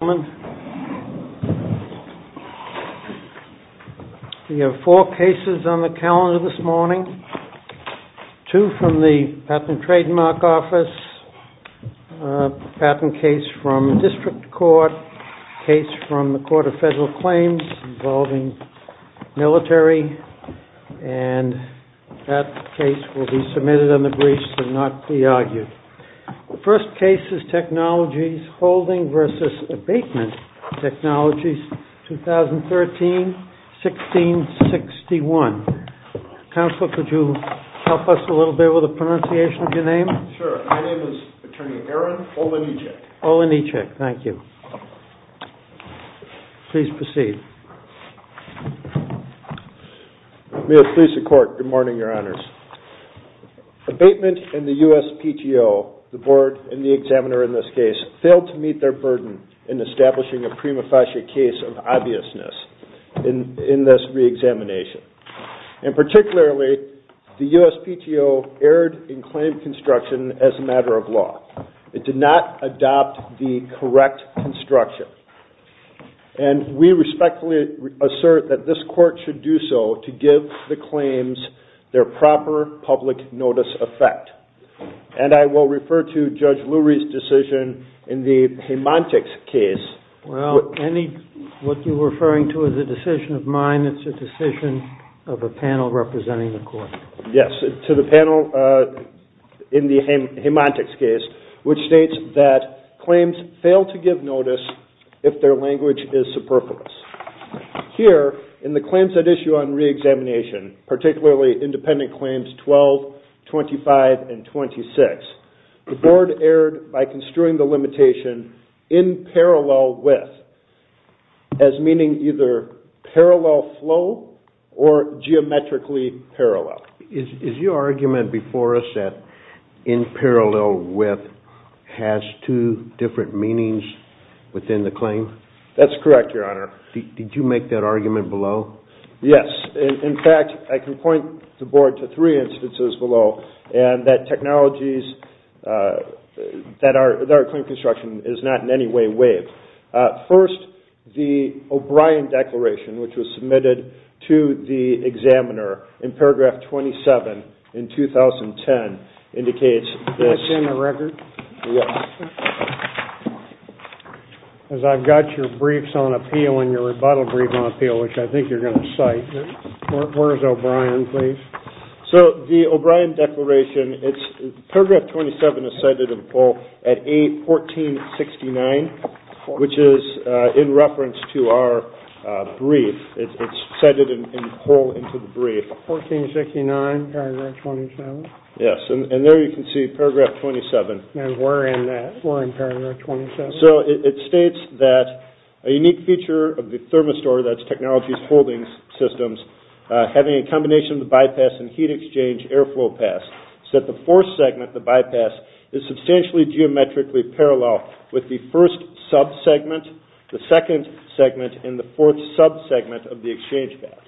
We have four cases on the calendar this morning. Two from the Patent and Trademark Office. A patent case from the District Court. A case from the Court of Federal Claims involving military. And that case will be submitted on the briefs and not be argued. The first case is Technologies Holdings v. Abatement Technologies, 2013-1661. Counselor, could you help us a little bit with the pronunciation of your name? Sure. My name is Attorney Aaron Olanichek. Olanichek. Thank you. Please proceed. Mayor's Police and Court. Good morning, Your Honors. Abatement and the USPTO, the board and the examiner in this case, failed to meet their burden in establishing a prima facie case of obviousness in this reexamination. And particularly, the USPTO erred in claim construction as a matter of law. It did not adopt the correct construction. And we respectfully assert that this court should do so to give the claims their proper public notice effect. And I will refer to Judge Lurie's decision in the Hemantics case. Well, what you're referring to is a decision of mine. It's a decision of a panel representing the court. Yes, to the panel in the Hemantics case, which states that claims fail to give notice if their language is superfluous. Here, in the claims at issue on reexamination, particularly independent claims 12, 25, and 26, the board erred by construing the limitation in parallel with, as meaning either parallel flow or geometrically parallel. Is your argument before us that in parallel with has two different meanings within the claim? That's correct, Your Honor. Did you make that argument below? Yes. In fact, I can point the board to three instances below, and that technologies that are in claim construction is not in any way waived. First, the O'Brien Declaration, which was submitted to the examiner in paragraph 27 in 2010, indicates this. Can I see the record? Yes. Because I've got your briefs on appeal and your rebuttal brief on appeal, which I think you're going to cite. Where's O'Brien, please? So the O'Brien Declaration, paragraph 27 is cited in full at A1469, which is in reference to our brief. It's cited in full into the brief. A1469, paragraph 27. Yes, and there you can see paragraph 27. And we're in that. We're in paragraph 27. So it states that a unique feature of the thermistor, that's technologies holding systems, having a combination of the bypass and heat exchange airflow pass, is that the fourth segment, the bypass, is substantially geometrically parallel with the first sub-segment, the second segment, and the fourth sub-segment of the exchange path.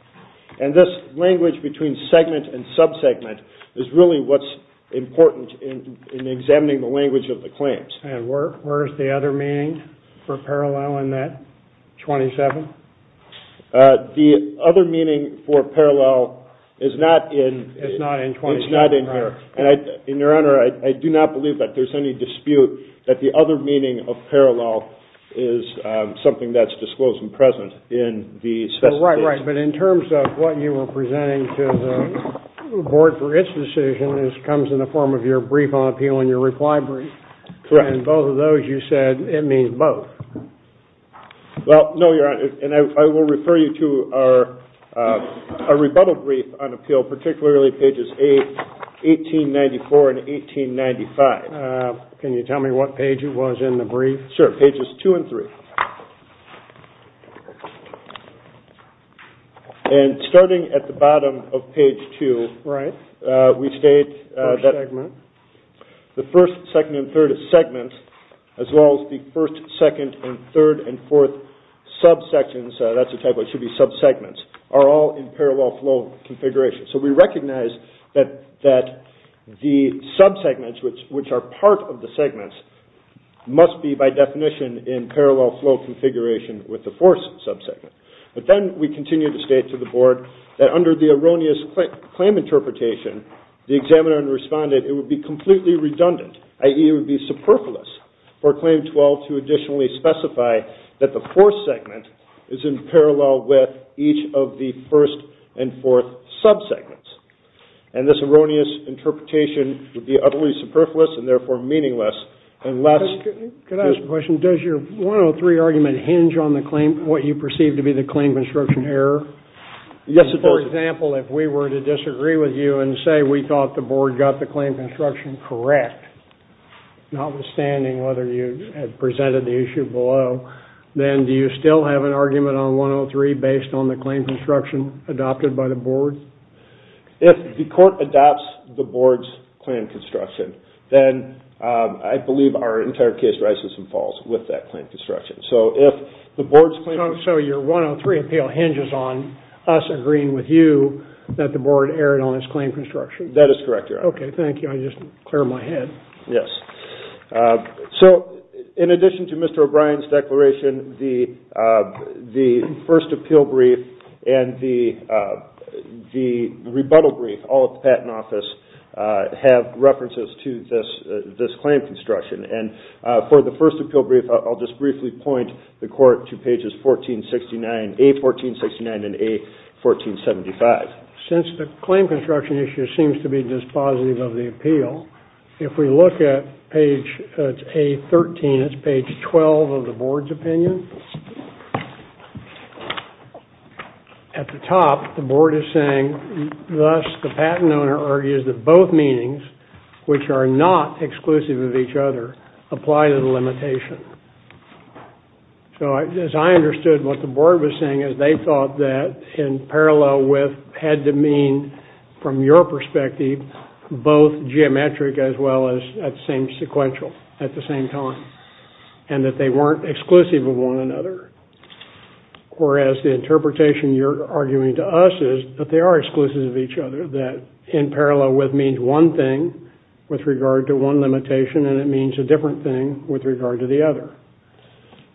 And this language between segment and sub-segment is really what's important in examining the language of the claims. And where is the other meaning for parallel in that 27? The other meaning for parallel is not in here. And, Your Honor, I do not believe that there's any dispute that the other meaning of parallel is something that's disclosed and present in the specification. Right, right. But in terms of what you were presenting to the board for its decision, this comes in the form of your brief on appeal and your reply brief. Correct. And both of those, you said, it means both. Well, no, Your Honor, and I will refer you to our rebuttal brief on appeal, particularly pages 1894 and 1895. Can you tell me what page it was in the brief? Sure, pages 2 and 3. And starting at the bottom of page 2, we state that the first, second, and third segments, as well as the first, second, and third and fourth sub-sections, that's a typo, it should be sub-segments, are all in parallel flow configuration. So we recognize that the sub-segments, which are part of the segments, must be by definition in parallel flow configuration with the fourth sub-segment. But then we continue to state to the board that under the erroneous claim interpretation, the examiner and respondent, it would be completely redundant, i.e. it would be superfluous for Claim 12 to additionally specify that the fourth segment is in parallel with each of the first and fourth sub-segments. And this erroneous interpretation would be utterly superfluous and therefore meaningless unless... Could I ask a question? Does your 103 argument hinge on what you perceive to be the claim construction error? Yes, it does. For example, if we were to disagree with you and say we thought the board got the claim construction correct, notwithstanding whether you had presented the issue below, then do you still have an argument on 103 based on the claim construction adopted by the board? If the court adopts the board's claim construction, then I believe our entire case rises and falls with that claim construction. So your 103 appeal hinges on us agreeing with you that the board erred on its claim construction? That is correct, Your Honor. Okay, thank you. I just cleared my head. Yes. So in addition to Mr. O'Brien's declaration, the first appeal brief and the rebuttal brief, all at the Patent Office, have references to this claim construction. For the first appeal brief, I'll just briefly point the court to pages A1469 and A1475. Since the claim construction issue seems to be dispositive of the appeal, if we look at page A13, it's page 12 of the board's opinion. At the top, the board is saying, thus the patent owner argues that both meanings, which are not exclusive of each other, apply to the limitation. So as I understood what the board was saying is they thought that in parallel with, had to mean from your perspective, both geometric as well as at the same sequential, at the same time, and that they weren't exclusive of one another. Whereas the interpretation you're arguing to us is that they are exclusive of each other, that in parallel with means one thing with regard to one limitation, and it means a different thing with regard to the other.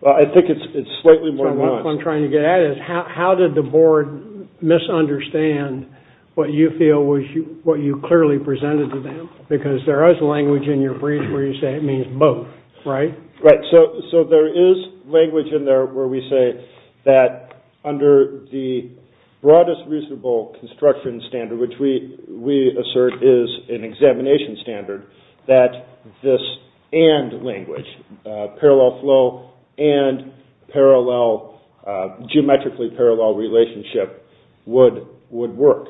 I think it's slightly more nuanced. So what I'm trying to get at is how did the board misunderstand what you feel was, what you clearly presented to them? Because there is language in your brief where you say it means both, right? So there is language in there where we say that under the broadest reasonable construction standard, which we assert is an examination standard, that this and language, parallel flow and geometrically parallel relationship would work.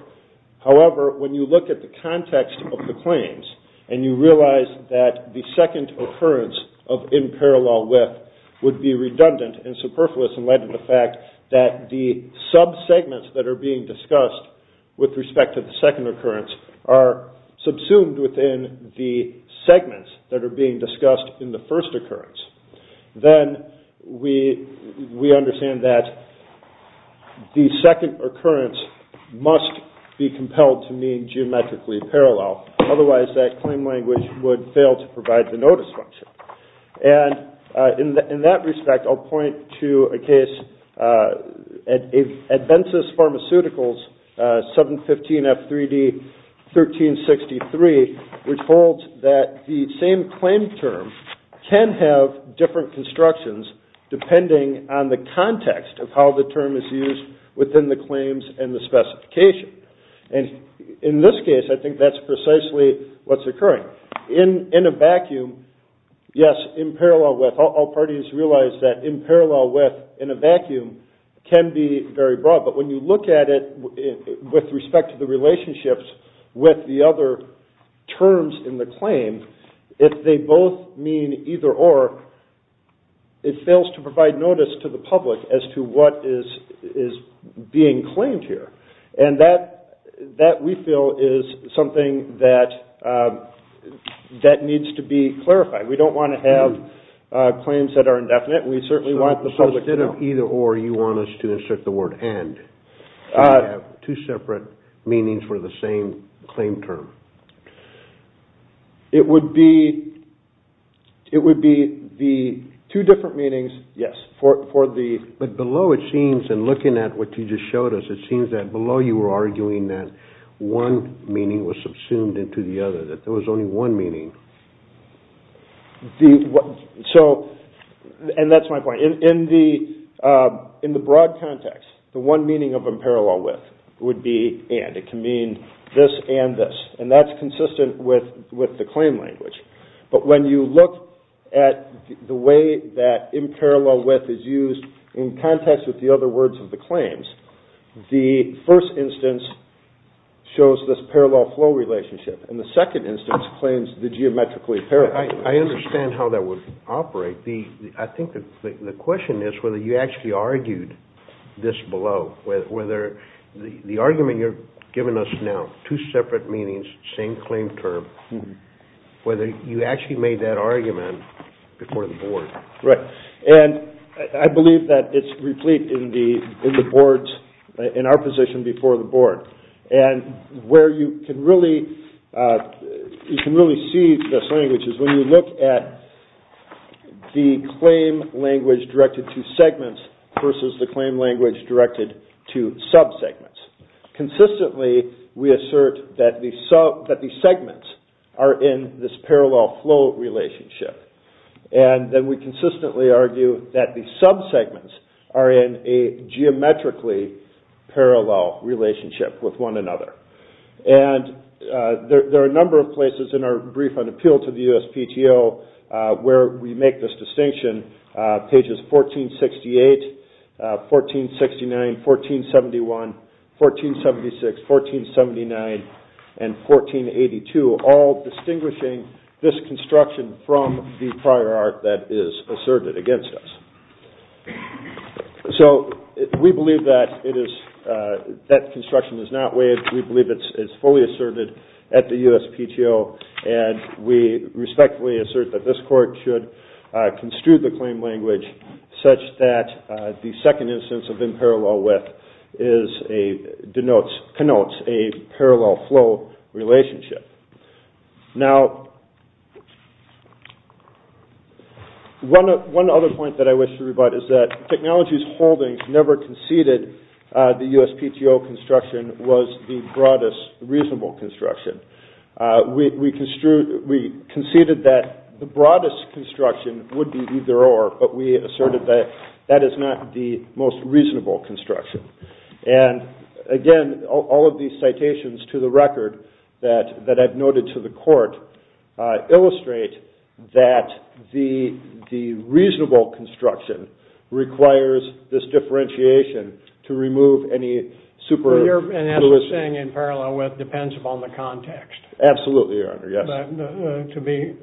However, when you look at the context of the claims, and you realize that the second occurrence of in parallel with would be redundant and superfluous in light of the fact that the sub-segments that are being discussed with respect to the second occurrence are subsumed within the segments that are being discussed in the first occurrence, then we understand that the second occurrence must be compelled to mean geometrically parallel. Otherwise, that claim language would fail to provide the notice function. And in that respect, I'll point to a case, Adventsis Pharmaceuticals 715F3D 1363, which holds that the same claim term can have different constructions depending on the context of how the term is used within the claims and the specification. And in this case, I think that's precisely what's occurring. In a vacuum, yes, in parallel with, all parties realize that in parallel with in a vacuum can be very broad. But when you look at it with respect to the relationships with the other terms in the claim, if they both mean either or, it fails to provide notice to the public as to what is being claimed here. And that, we feel, is something that needs to be clarified. We don't want to have claims that are indefinite. We certainly want the public to know. So instead of either or, you want us to insert the word and, to have two separate meanings for the same claim term. It would be the two different meanings, yes. But below it seems, and looking at what you just showed us, it seems that below you were arguing that one meaning was subsumed into the other, that there was only one meaning. And that's my point. In the broad context, the one meaning of in parallel with would be and. It can mean this and this. And that's consistent with the claim language. But when you look at the way that in parallel with is used in context with the other words of the claims, the first instance shows this parallel flow relationship. And the second instance claims the geometrically parallel. I understand how that would operate. I think the question is whether you actually argued this below, whether the argument you're giving us now, two separate meanings, same claim term, whether you actually made that argument before the board. Right. And I believe that it's replete in the boards, in our position before the board. And where you can really see this language is when you look at the claim language directed to segments versus the claim language directed to subsegments. Consistently, we assert that the segments are in this parallel flow relationship. And then we consistently argue that the subsegments are in a geometrically parallel relationship with one another. And there are a number of places in our brief on appeal to the USPTO where we make this distinction. Pages 1468, 1469, 1471, 1476, 1479, and 1482, all distinguishing this construction from the prior art that is asserted against us. So we believe that construction is not waived. We believe it's fully asserted at the USPTO. And we respectfully assert that this court should construe the claim language such that the second instance of in parallel with denotes, connotes a parallel flow relationship. Now, one other point that I wish to rebut is that Technologies Holdings never conceded the USPTO construction was the broadest reasonable construction. We conceded that the broadest construction would be either or, but we asserted that that is not the most reasonable construction. And again, all of these citations to the record that I've noted to the court illustrate that the reasonable construction requires this differentiation to remove any super- And as we're saying, in parallel with depends upon the context. Absolutely, Your Honor, yes. To be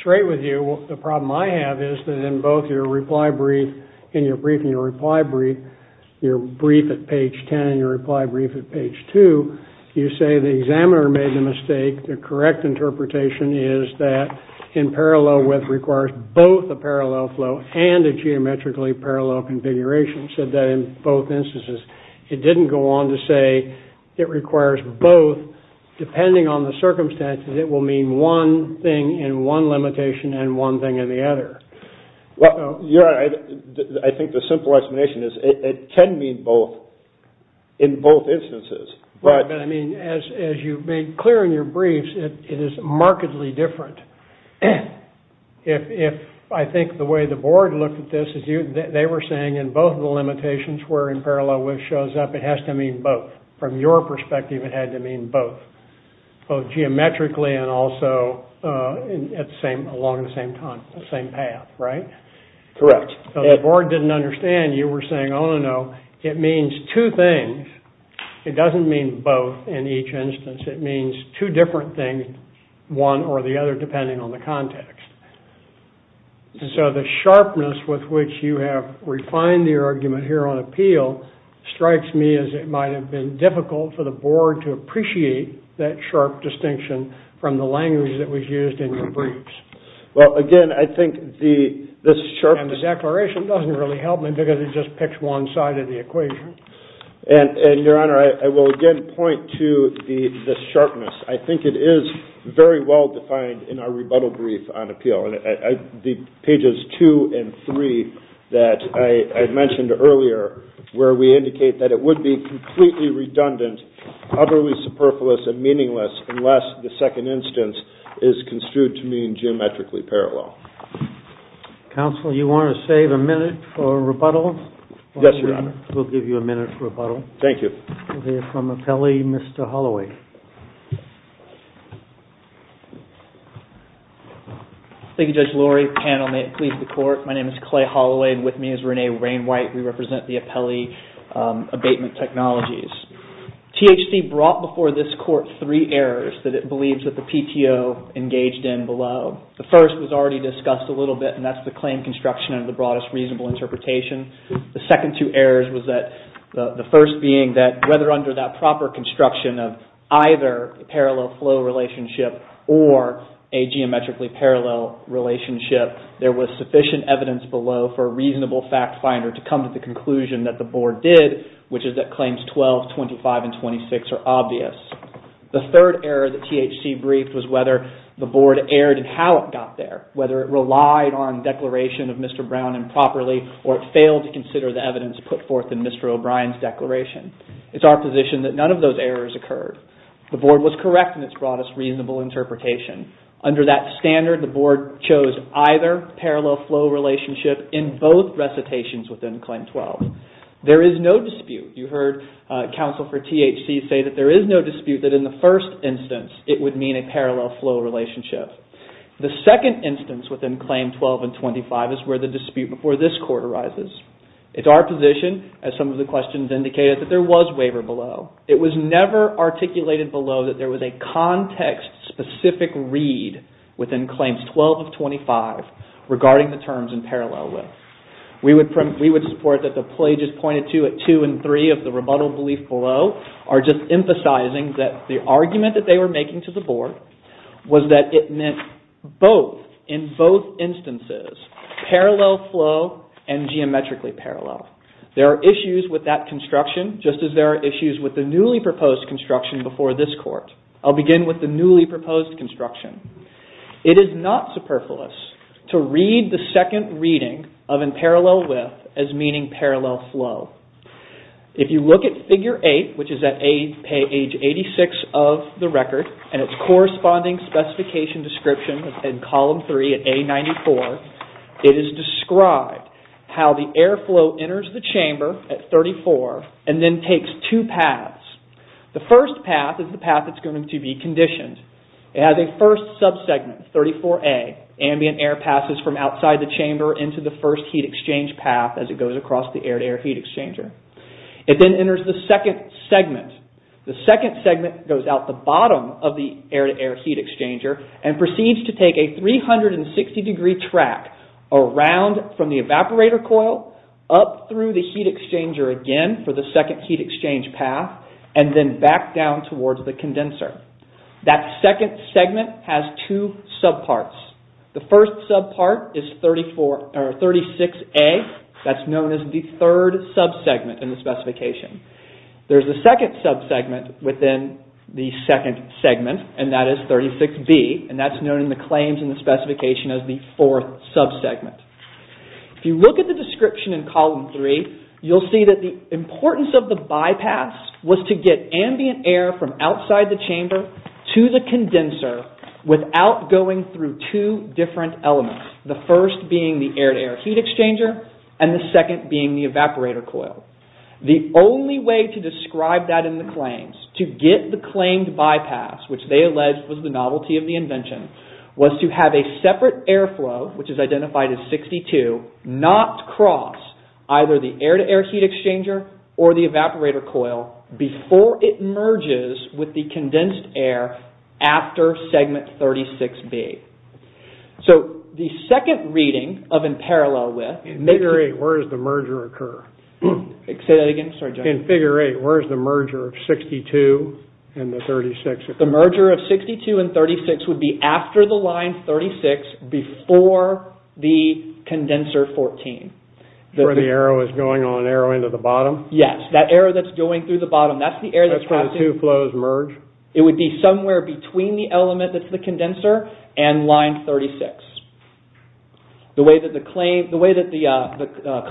straight with you, the problem I have is that in both your reply brief, in your brief and your reply brief, your brief at page 10 and your reply brief at page 2, you say the examiner made the mistake. The correct interpretation is that in parallel with requires both a parallel flow and a geometrically parallel configuration, said that in both instances. It didn't go on to say it requires both, depending on the circumstances, it will mean one thing in one limitation and one thing in the other. Well, Your Honor, I think the simple explanation is it can mean both in both instances. But I mean, as you've made clear in your briefs, it is markedly different. If I think the way the board looked at this, they were saying in both of the limitations where in parallel with shows up, it has to mean both. From your perspective, it had to mean both, both geometrically and also along the same path, right? Correct. The board didn't understand. You were saying, oh, no, it means two things. It doesn't mean both in each instance. It means two different things, one or the other, depending on the context. And so the sharpness with which you have refined the argument here on appeal strikes me as it might have been difficult for the board to appreciate that sharp distinction from the language that was used in your briefs. Well, again, I think the sharpness of the declaration doesn't really help me because it just picks one side of the equation. And, Your Honor, I will again point to the sharpness. I think it is very well defined in our rebuttal brief on appeal. The pages two and three that I had mentioned earlier, where we indicate that it would be completely redundant, utterly superfluous and meaningless unless the second instance is construed to mean geometrically parallel. Counsel, you want to save a minute for rebuttal? Yes, Your Honor. We'll give you a minute for rebuttal. Thank you. We'll hear from appellee, Mr. Holloway. Thank you, Judge Lurie. Panel, may it please the court. My name is Clay Holloway and with me is Renee Rain White. We represent the appellee abatement technologies. THC brought before this court three errors that it believes that the PTO engaged in below. The first was already discussed a little bit, and that's the claim construction and the broadest reasonable interpretation. The second two errors was that the first being that whether under that proper construction of either parallel flow relationship or a geometrically parallel relationship, there was sufficient evidence below for a reasonable fact finder to come to the conclusion that the board did, which is that claims 12, 25, and 26 are obvious. The third error that THC briefed was whether the board erred in how it got there, whether it relied on declaration of Mr. Brown improperly, or it failed to consider the evidence put forth in Mr. O'Brien's declaration. It's our position that none of those errors occurred. The board was correct in its broadest reasonable interpretation. Under that standard, the board chose either parallel flow relationship in both recitations within claim 12. There is no dispute. You heard counsel for THC say that there is no dispute that in the first instance it would mean a parallel flow relationship. The second instance within claim 12 and 25 is where the dispute before this court arises. It's our position, as some of the questions indicated, that there was waiver below. It was never articulated below that there was a context-specific read within claims 12 and 25 regarding the terms in parallel with. We would support that the pages pointed to at 2 and 3 of the rebuttal belief below are just emphasizing that the argument that they were making to the board was that it meant both, in both instances, parallel flow and geometrically parallel. There are issues with that construction, just as there are issues with the newly proposed construction before this court. I'll begin with the newly proposed construction. It is not superfluous to read the second reading of in parallel with as meaning parallel flow. If you look at figure 8, which is at page 86 of the record, and its corresponding specification description in column 3 at A94, it is described how the airflow enters the chamber at 34 and then takes two paths. The first path is the path that's going to be conditioned. It has a first sub-segment, 34A. Ambient air passes from outside the chamber into the first heat exchange path as it goes across the air-to-air heat exchanger. It then enters the second segment. The second segment goes out the bottom of the air-to-air heat exchanger and proceeds to take a 360-degree track around from the evaporator coil up through the heat exchanger again for the second heat exchange path and then back down towards the condenser. That second segment has two sub-parts. The first sub-part is 36A. That's known as the third sub-segment in the specification. There's a second sub-segment within the second segment, and that is 36B, and that's known in the claims in the specification as the fourth sub-segment. If you look at the description in column 3, you'll see that the importance of the bypass was to get ambient air from outside the chamber to the condenser without going through two different elements, the first being the air-to-air heat exchanger and the second being the evaporator coil. The only way to describe that in the claims, to get the claimed bypass, which they alleged was the novelty of the invention, was to have a separate airflow, which is identified as 62, not cross either the air-to-air heat exchanger or the evaporator coil before it merges with the condensed air after segment 36B. The second reading of in parallel with... In figure 8, where does the merger occur? Say that again? Sorry, John. In figure 8, where does the merger of 62 and the 36 occur? The merger of 62 and 36 would be after the line 36 before the condenser 14. Where the arrow is going on an arrow into the bottom? Yes, that arrow that's going through the bottom. That's where the two flows merge. It would be somewhere between the element that's the condenser and line 36. The way that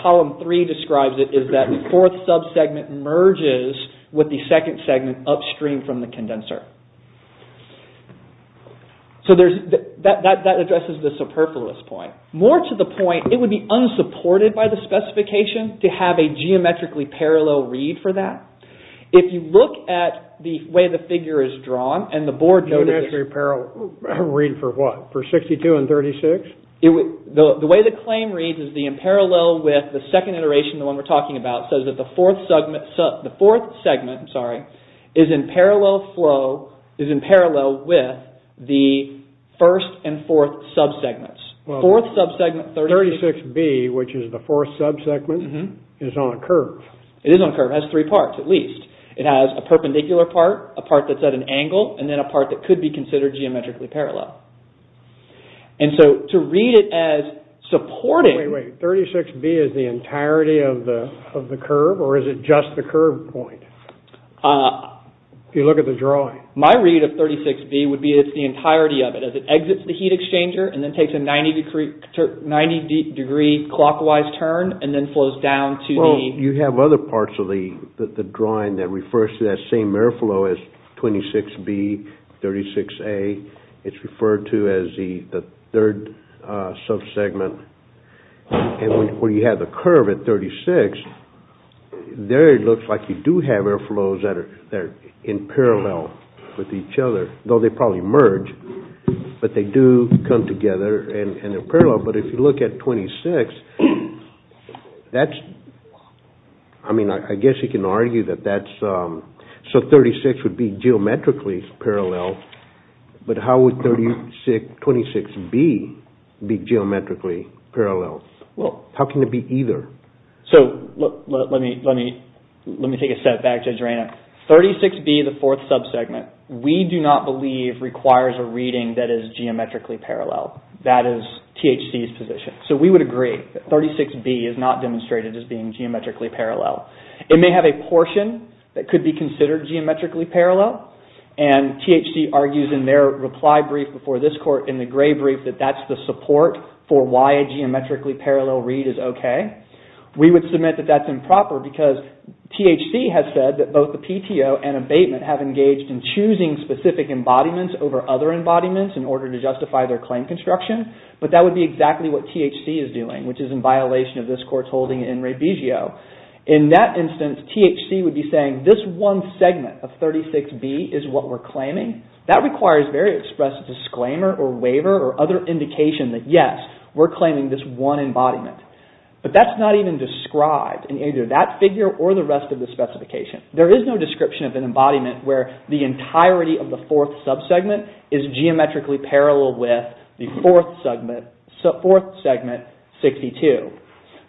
column 3 describes it is that the fourth sub-segment merges with the second segment upstream from the condenser. That addresses the superfluous point. More to the point, it would be unsupported by the specification to have a geometrically parallel read for that. If you look at the way the figure is drawn and the board... Geometrically parallel read for what? For 62 and 36? The way the claim reads is the in parallel with the second iteration, the one we're talking about, says that the fourth segment is in parallel flow, is in parallel with the first and fourth sub-segments. 36B, which is the fourth sub-segment, is on a curve. It is on a curve. It has three parts at least. It has a perpendicular part, a part that's at an angle, and then a part that could be considered geometrically parallel. 36B is the entirety of the curve or is it just the curve point? If you look at the drawing. My read of 36B would be it's the entirety of it. It exits the heat exchanger and then takes a 90 degree clockwise turn and then flows down to the... You have other parts of the drawing that refers to that same air flow as 26B, 36A. It's referred to as the third sub-segment. When you have the curve at 36, there it looks like you do have air flows that are in parallel with each other, though they probably merge, but they do come together and they're parallel. But if you look at 26, I guess you can argue that that's... So 36 would be geometrically parallel, but how would 26B be geometrically parallel? How can it be either? Let me take a step back, Judge Reina. 36B, the fourth sub-segment, we do not believe requires a reading that is geometrically parallel. That is THC's position. So we would agree that 36B is not demonstrated as being geometrically parallel. It may have a portion that could be considered geometrically parallel and THC argues in their reply brief before this court in the gray brief that that's the support for why a geometrically parallel read is okay. We would submit that that's improper because THC has said that both the PTO and abatement have engaged in choosing specific embodiments over other embodiments in order to justify their claim construction, but that would be exactly what THC is doing, which is in violation of this court's holding in Revisio. In that instance, THC would be saying, this one segment of 36B is what we're claiming. That requires very expressive disclaimer or waiver or other indication that yes, we're claiming this one embodiment. But that's not even described in either that figure or the rest of the specification. There is no description of an embodiment where the entirety of the fourth subsegment is geometrically parallel with the fourth segment, 62.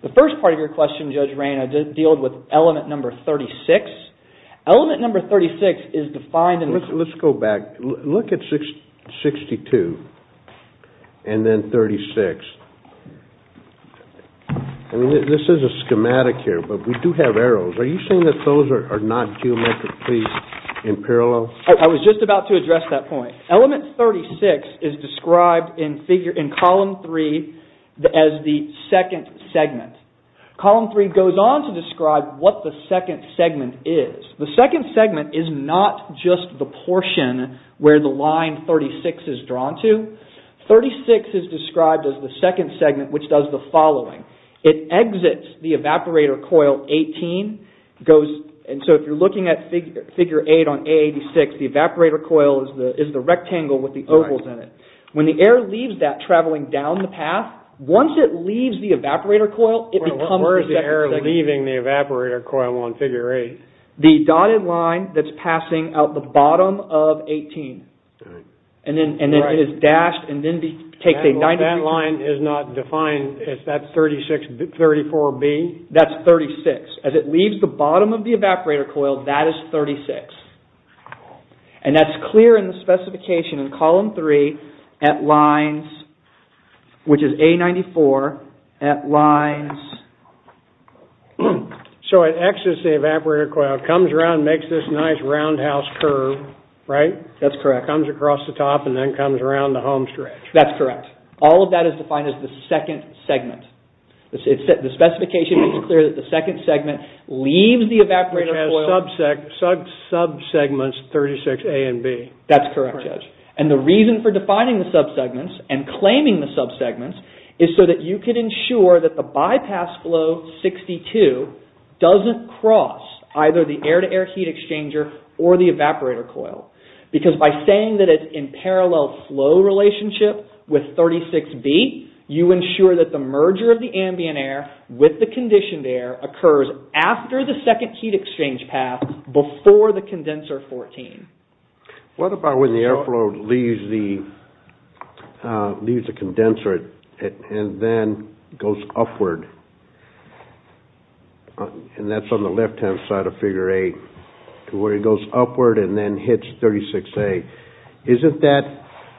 The first part of your question, Judge Reina, deals with element number 36. Element number 36 is defined in the- Let's go back. Look at 62 and then 36. This is a schematic here, but we do have arrows. Are you saying that those are not geometrically in parallel? I was just about to address that point. Element 36 is described in column 3 as the second segment. Column 3 goes on to describe what the second segment is. The second segment is not just the portion where the line 36 is drawn to. 36 is described as the second segment, which does the following. It exits the evaporator coil 18. If you're looking at figure 8 on A86, the evaporator coil is the rectangle with the ovals in it. When the air leaves that traveling down the path, once it leaves the evaporator coil, it becomes the second segment. Where is the air leaving the evaporator coil on figure 8? The dotted line that's passing out the bottom of 18. That line is not defined. Is that 36, 34B? That's 36. As it leaves the bottom of the evaporator coil, that is 36. That's clear in the specification in column 3 at lines, which is A94, at lines- It exits the evaporator coil, comes around, makes this nice roundhouse curve, right? That's correct. Comes across the top and then comes around the home stretch. That's correct. All of that is defined as the second segment. The specification makes it clear that the second segment leaves the evaporator coil- It has subsegments 36A and B. That's correct, Judge. The reason for defining the subsegments and claiming the subsegments is so that you can ensure that the bypass flow 62 doesn't cross either the air-to-air heat exchanger or the evaporator coil. Because by saying that it's in parallel flow relationship with 36B, you ensure that the merger of the ambient air with the conditioned air occurs after the second heat exchange path before the condenser 14. What about when the airflow leaves the condenser and then goes upward? That's on the left-hand side of figure 8, to where it goes upward and then hits 36A. Isn't that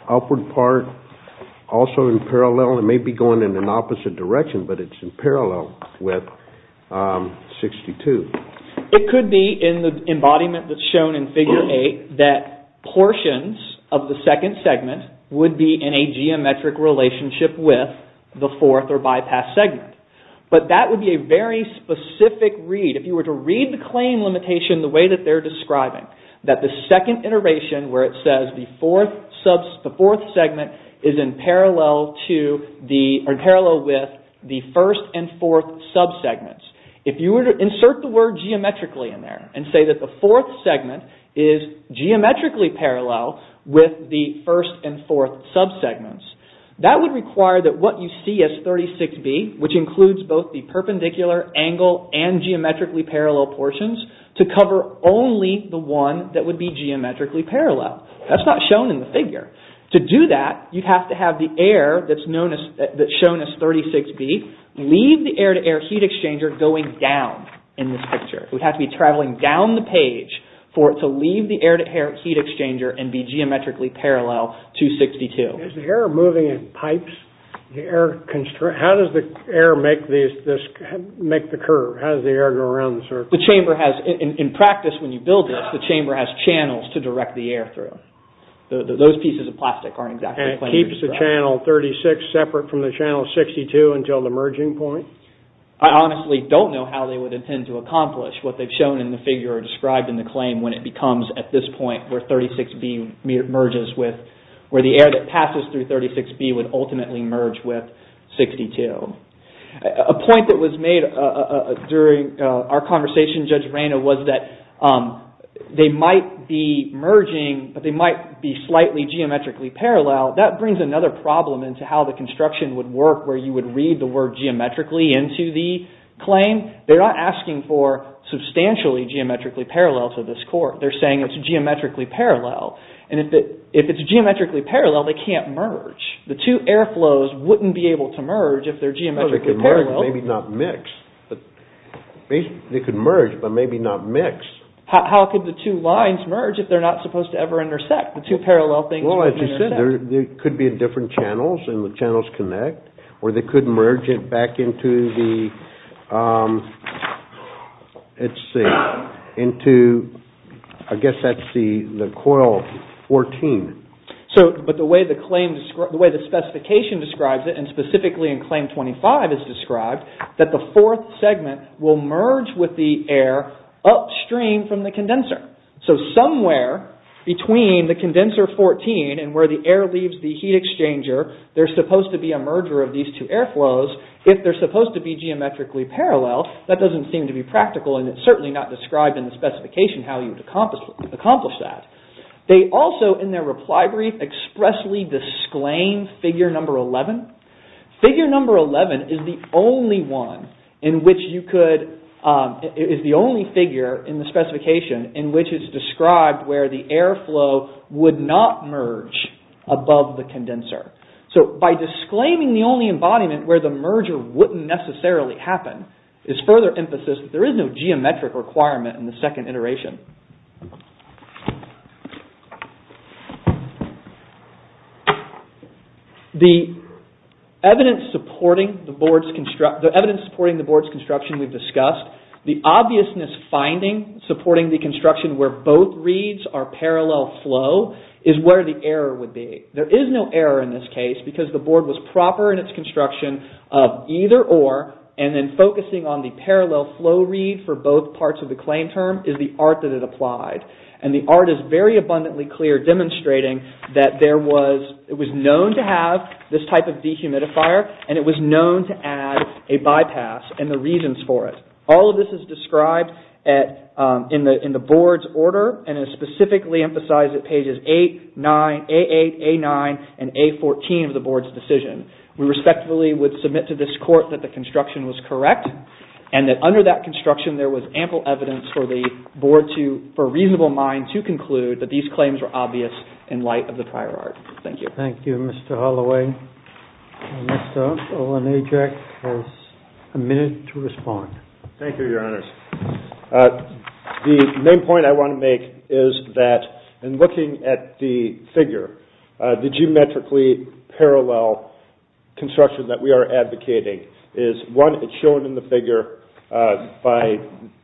upward part also in parallel? It may be going in an opposite direction, but it's in parallel with 62. It could be in the embodiment that's shown in figure 8 that portions of the second segment would be in a geometric relationship with the fourth or bypass segment. But that would be a very specific read. If you were to read the claim limitation the way that they're describing, that the second iteration where it says the fourth segment is in parallel with the first and fourth subsegments. If you were to insert the word geometrically in there and say that the fourth segment is geometrically parallel with the first and fourth subsegments, that would require that what you see as 36B, which includes both the perpendicular angle and geometrically parallel portions, to cover only the one that would be geometrically parallel. That's not shown in the figure. To do that, you have to have the air that's shown as 36B leave the air-to-air heat exchanger going down in this picture. We have to be traveling down the page for it to leave the air-to-air heat exchanger and be geometrically parallel to 62. Is the air moving in pipes? How does the air make the curve? How does the air go around the circle? In practice, when you build this, the chamber has channels to direct the air through. Those pieces of plastic aren't exactly planar. And it keeps the channel 36 separate from the channel 62 until the merging point? I honestly don't know how they would intend to accomplish what they've shown in the figure or described in the claim when it becomes at this point where 36B merges with where the air that passes through 36B would ultimately merge with 62. A point that was made during our conversation, Judge Reina, was that they might be merging, but they might be slightly geometrically parallel. That brings another problem into how the construction would work where you would read the word geometrically into the claim. They're not asking for substantially geometrically parallel to this court. They're saying it's geometrically parallel. If it's geometrically parallel, they can't merge. The two air flows wouldn't be able to merge if they're geometrically parallel. Maybe not mix. They could merge, but maybe not mix. How could the two lines merge if they're not supposed to ever intersect? The two parallel things wouldn't intersect. There could be different channels and the channels connect or they could merge it back into the coil 14. The way the specification describes it, and specifically in claim 25 is described, that the fourth segment will merge with the air upstream from the condenser. Somewhere between the condenser 14 and where the air leaves the heat exchanger, there's supposed to be a merger of these two air flows. If they're supposed to be geometrically parallel, that doesn't seem to be practical and it's certainly not described in the specification how you would accomplish that. They also, in their reply brief, expressly disclaim figure number 11. Figure number 11 is the only one in which you could, is the only figure in the specification in which it's described where the air flow would not merge above the condenser. By disclaiming the only embodiment where the merger wouldn't necessarily happen is further emphasis that there is no geometric requirement in the second iteration. The evidence supporting the board's construction we've discussed, the obviousness finding supporting the construction where both reads are parallel flow is where the error would be. There is no error in this case because the board was proper in its construction of either or and then focusing on the parallel flow read for both parts of the claim term is the art that it applied. The art is very abundantly clear demonstrating that there was, it was known to have this type of dehumidifier and it was known to add a bypass and the reasons for it. All of this is described in the board's order and is specifically emphasized at pages 8, 9, A8, A9 and A14 of the board's decision. We respectfully would submit to this court that the construction was correct and that under that construction there was ample evidence for the board to, for a reasonable mind to conclude that these claims were obvious in light of the prior art. Thank you. Thank you Mr. Holloway. Next up Owen Ajak has a minute to respond. Thank you your honors. The main point I want to make is that in looking at the figure, the geometrically parallel construction that we are advocating is one, it's shown in the figure by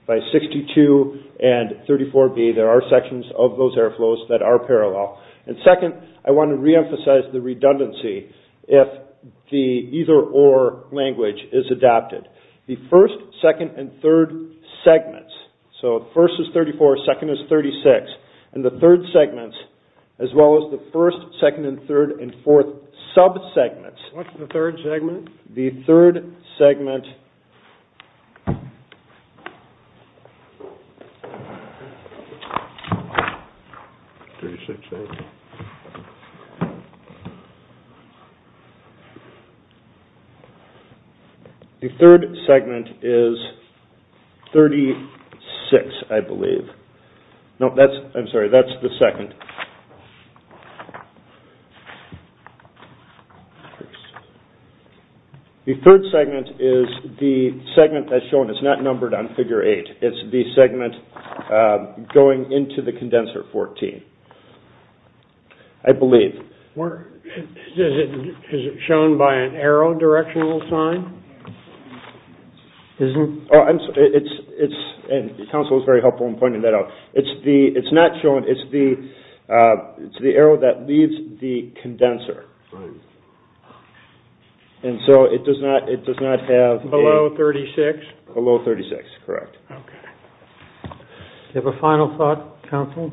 62 and 34B, there are sections of those air flows that are parallel. And second I want to reemphasize the redundancy if the either or language is adapted. The first, second and third segments, so first is 34, second is 36, and the third segments as well as the first, second and third and fourth sub-segments. What's the third segment? The third segment is 36 I believe. No that's, I'm sorry, that's the second. The third segment is the segment that's shown, it's not numbered on figure 8, it's the segment going into the condenser 14. I believe. Is it shown by an arrow directional sign? It's, and counsel is very helpful in pointing that out, it's not shown, it's the arrow that leaves the condenser. Right. And so it does not have. Below 36? Below 36, correct. Okay. Do you have a final thought counsel?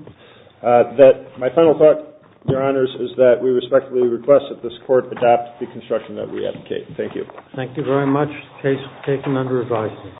My final thought your honors is that we respectfully request that this court adopt the construction that we advocate. Thank you. Thank you very much. Case taken under advisory.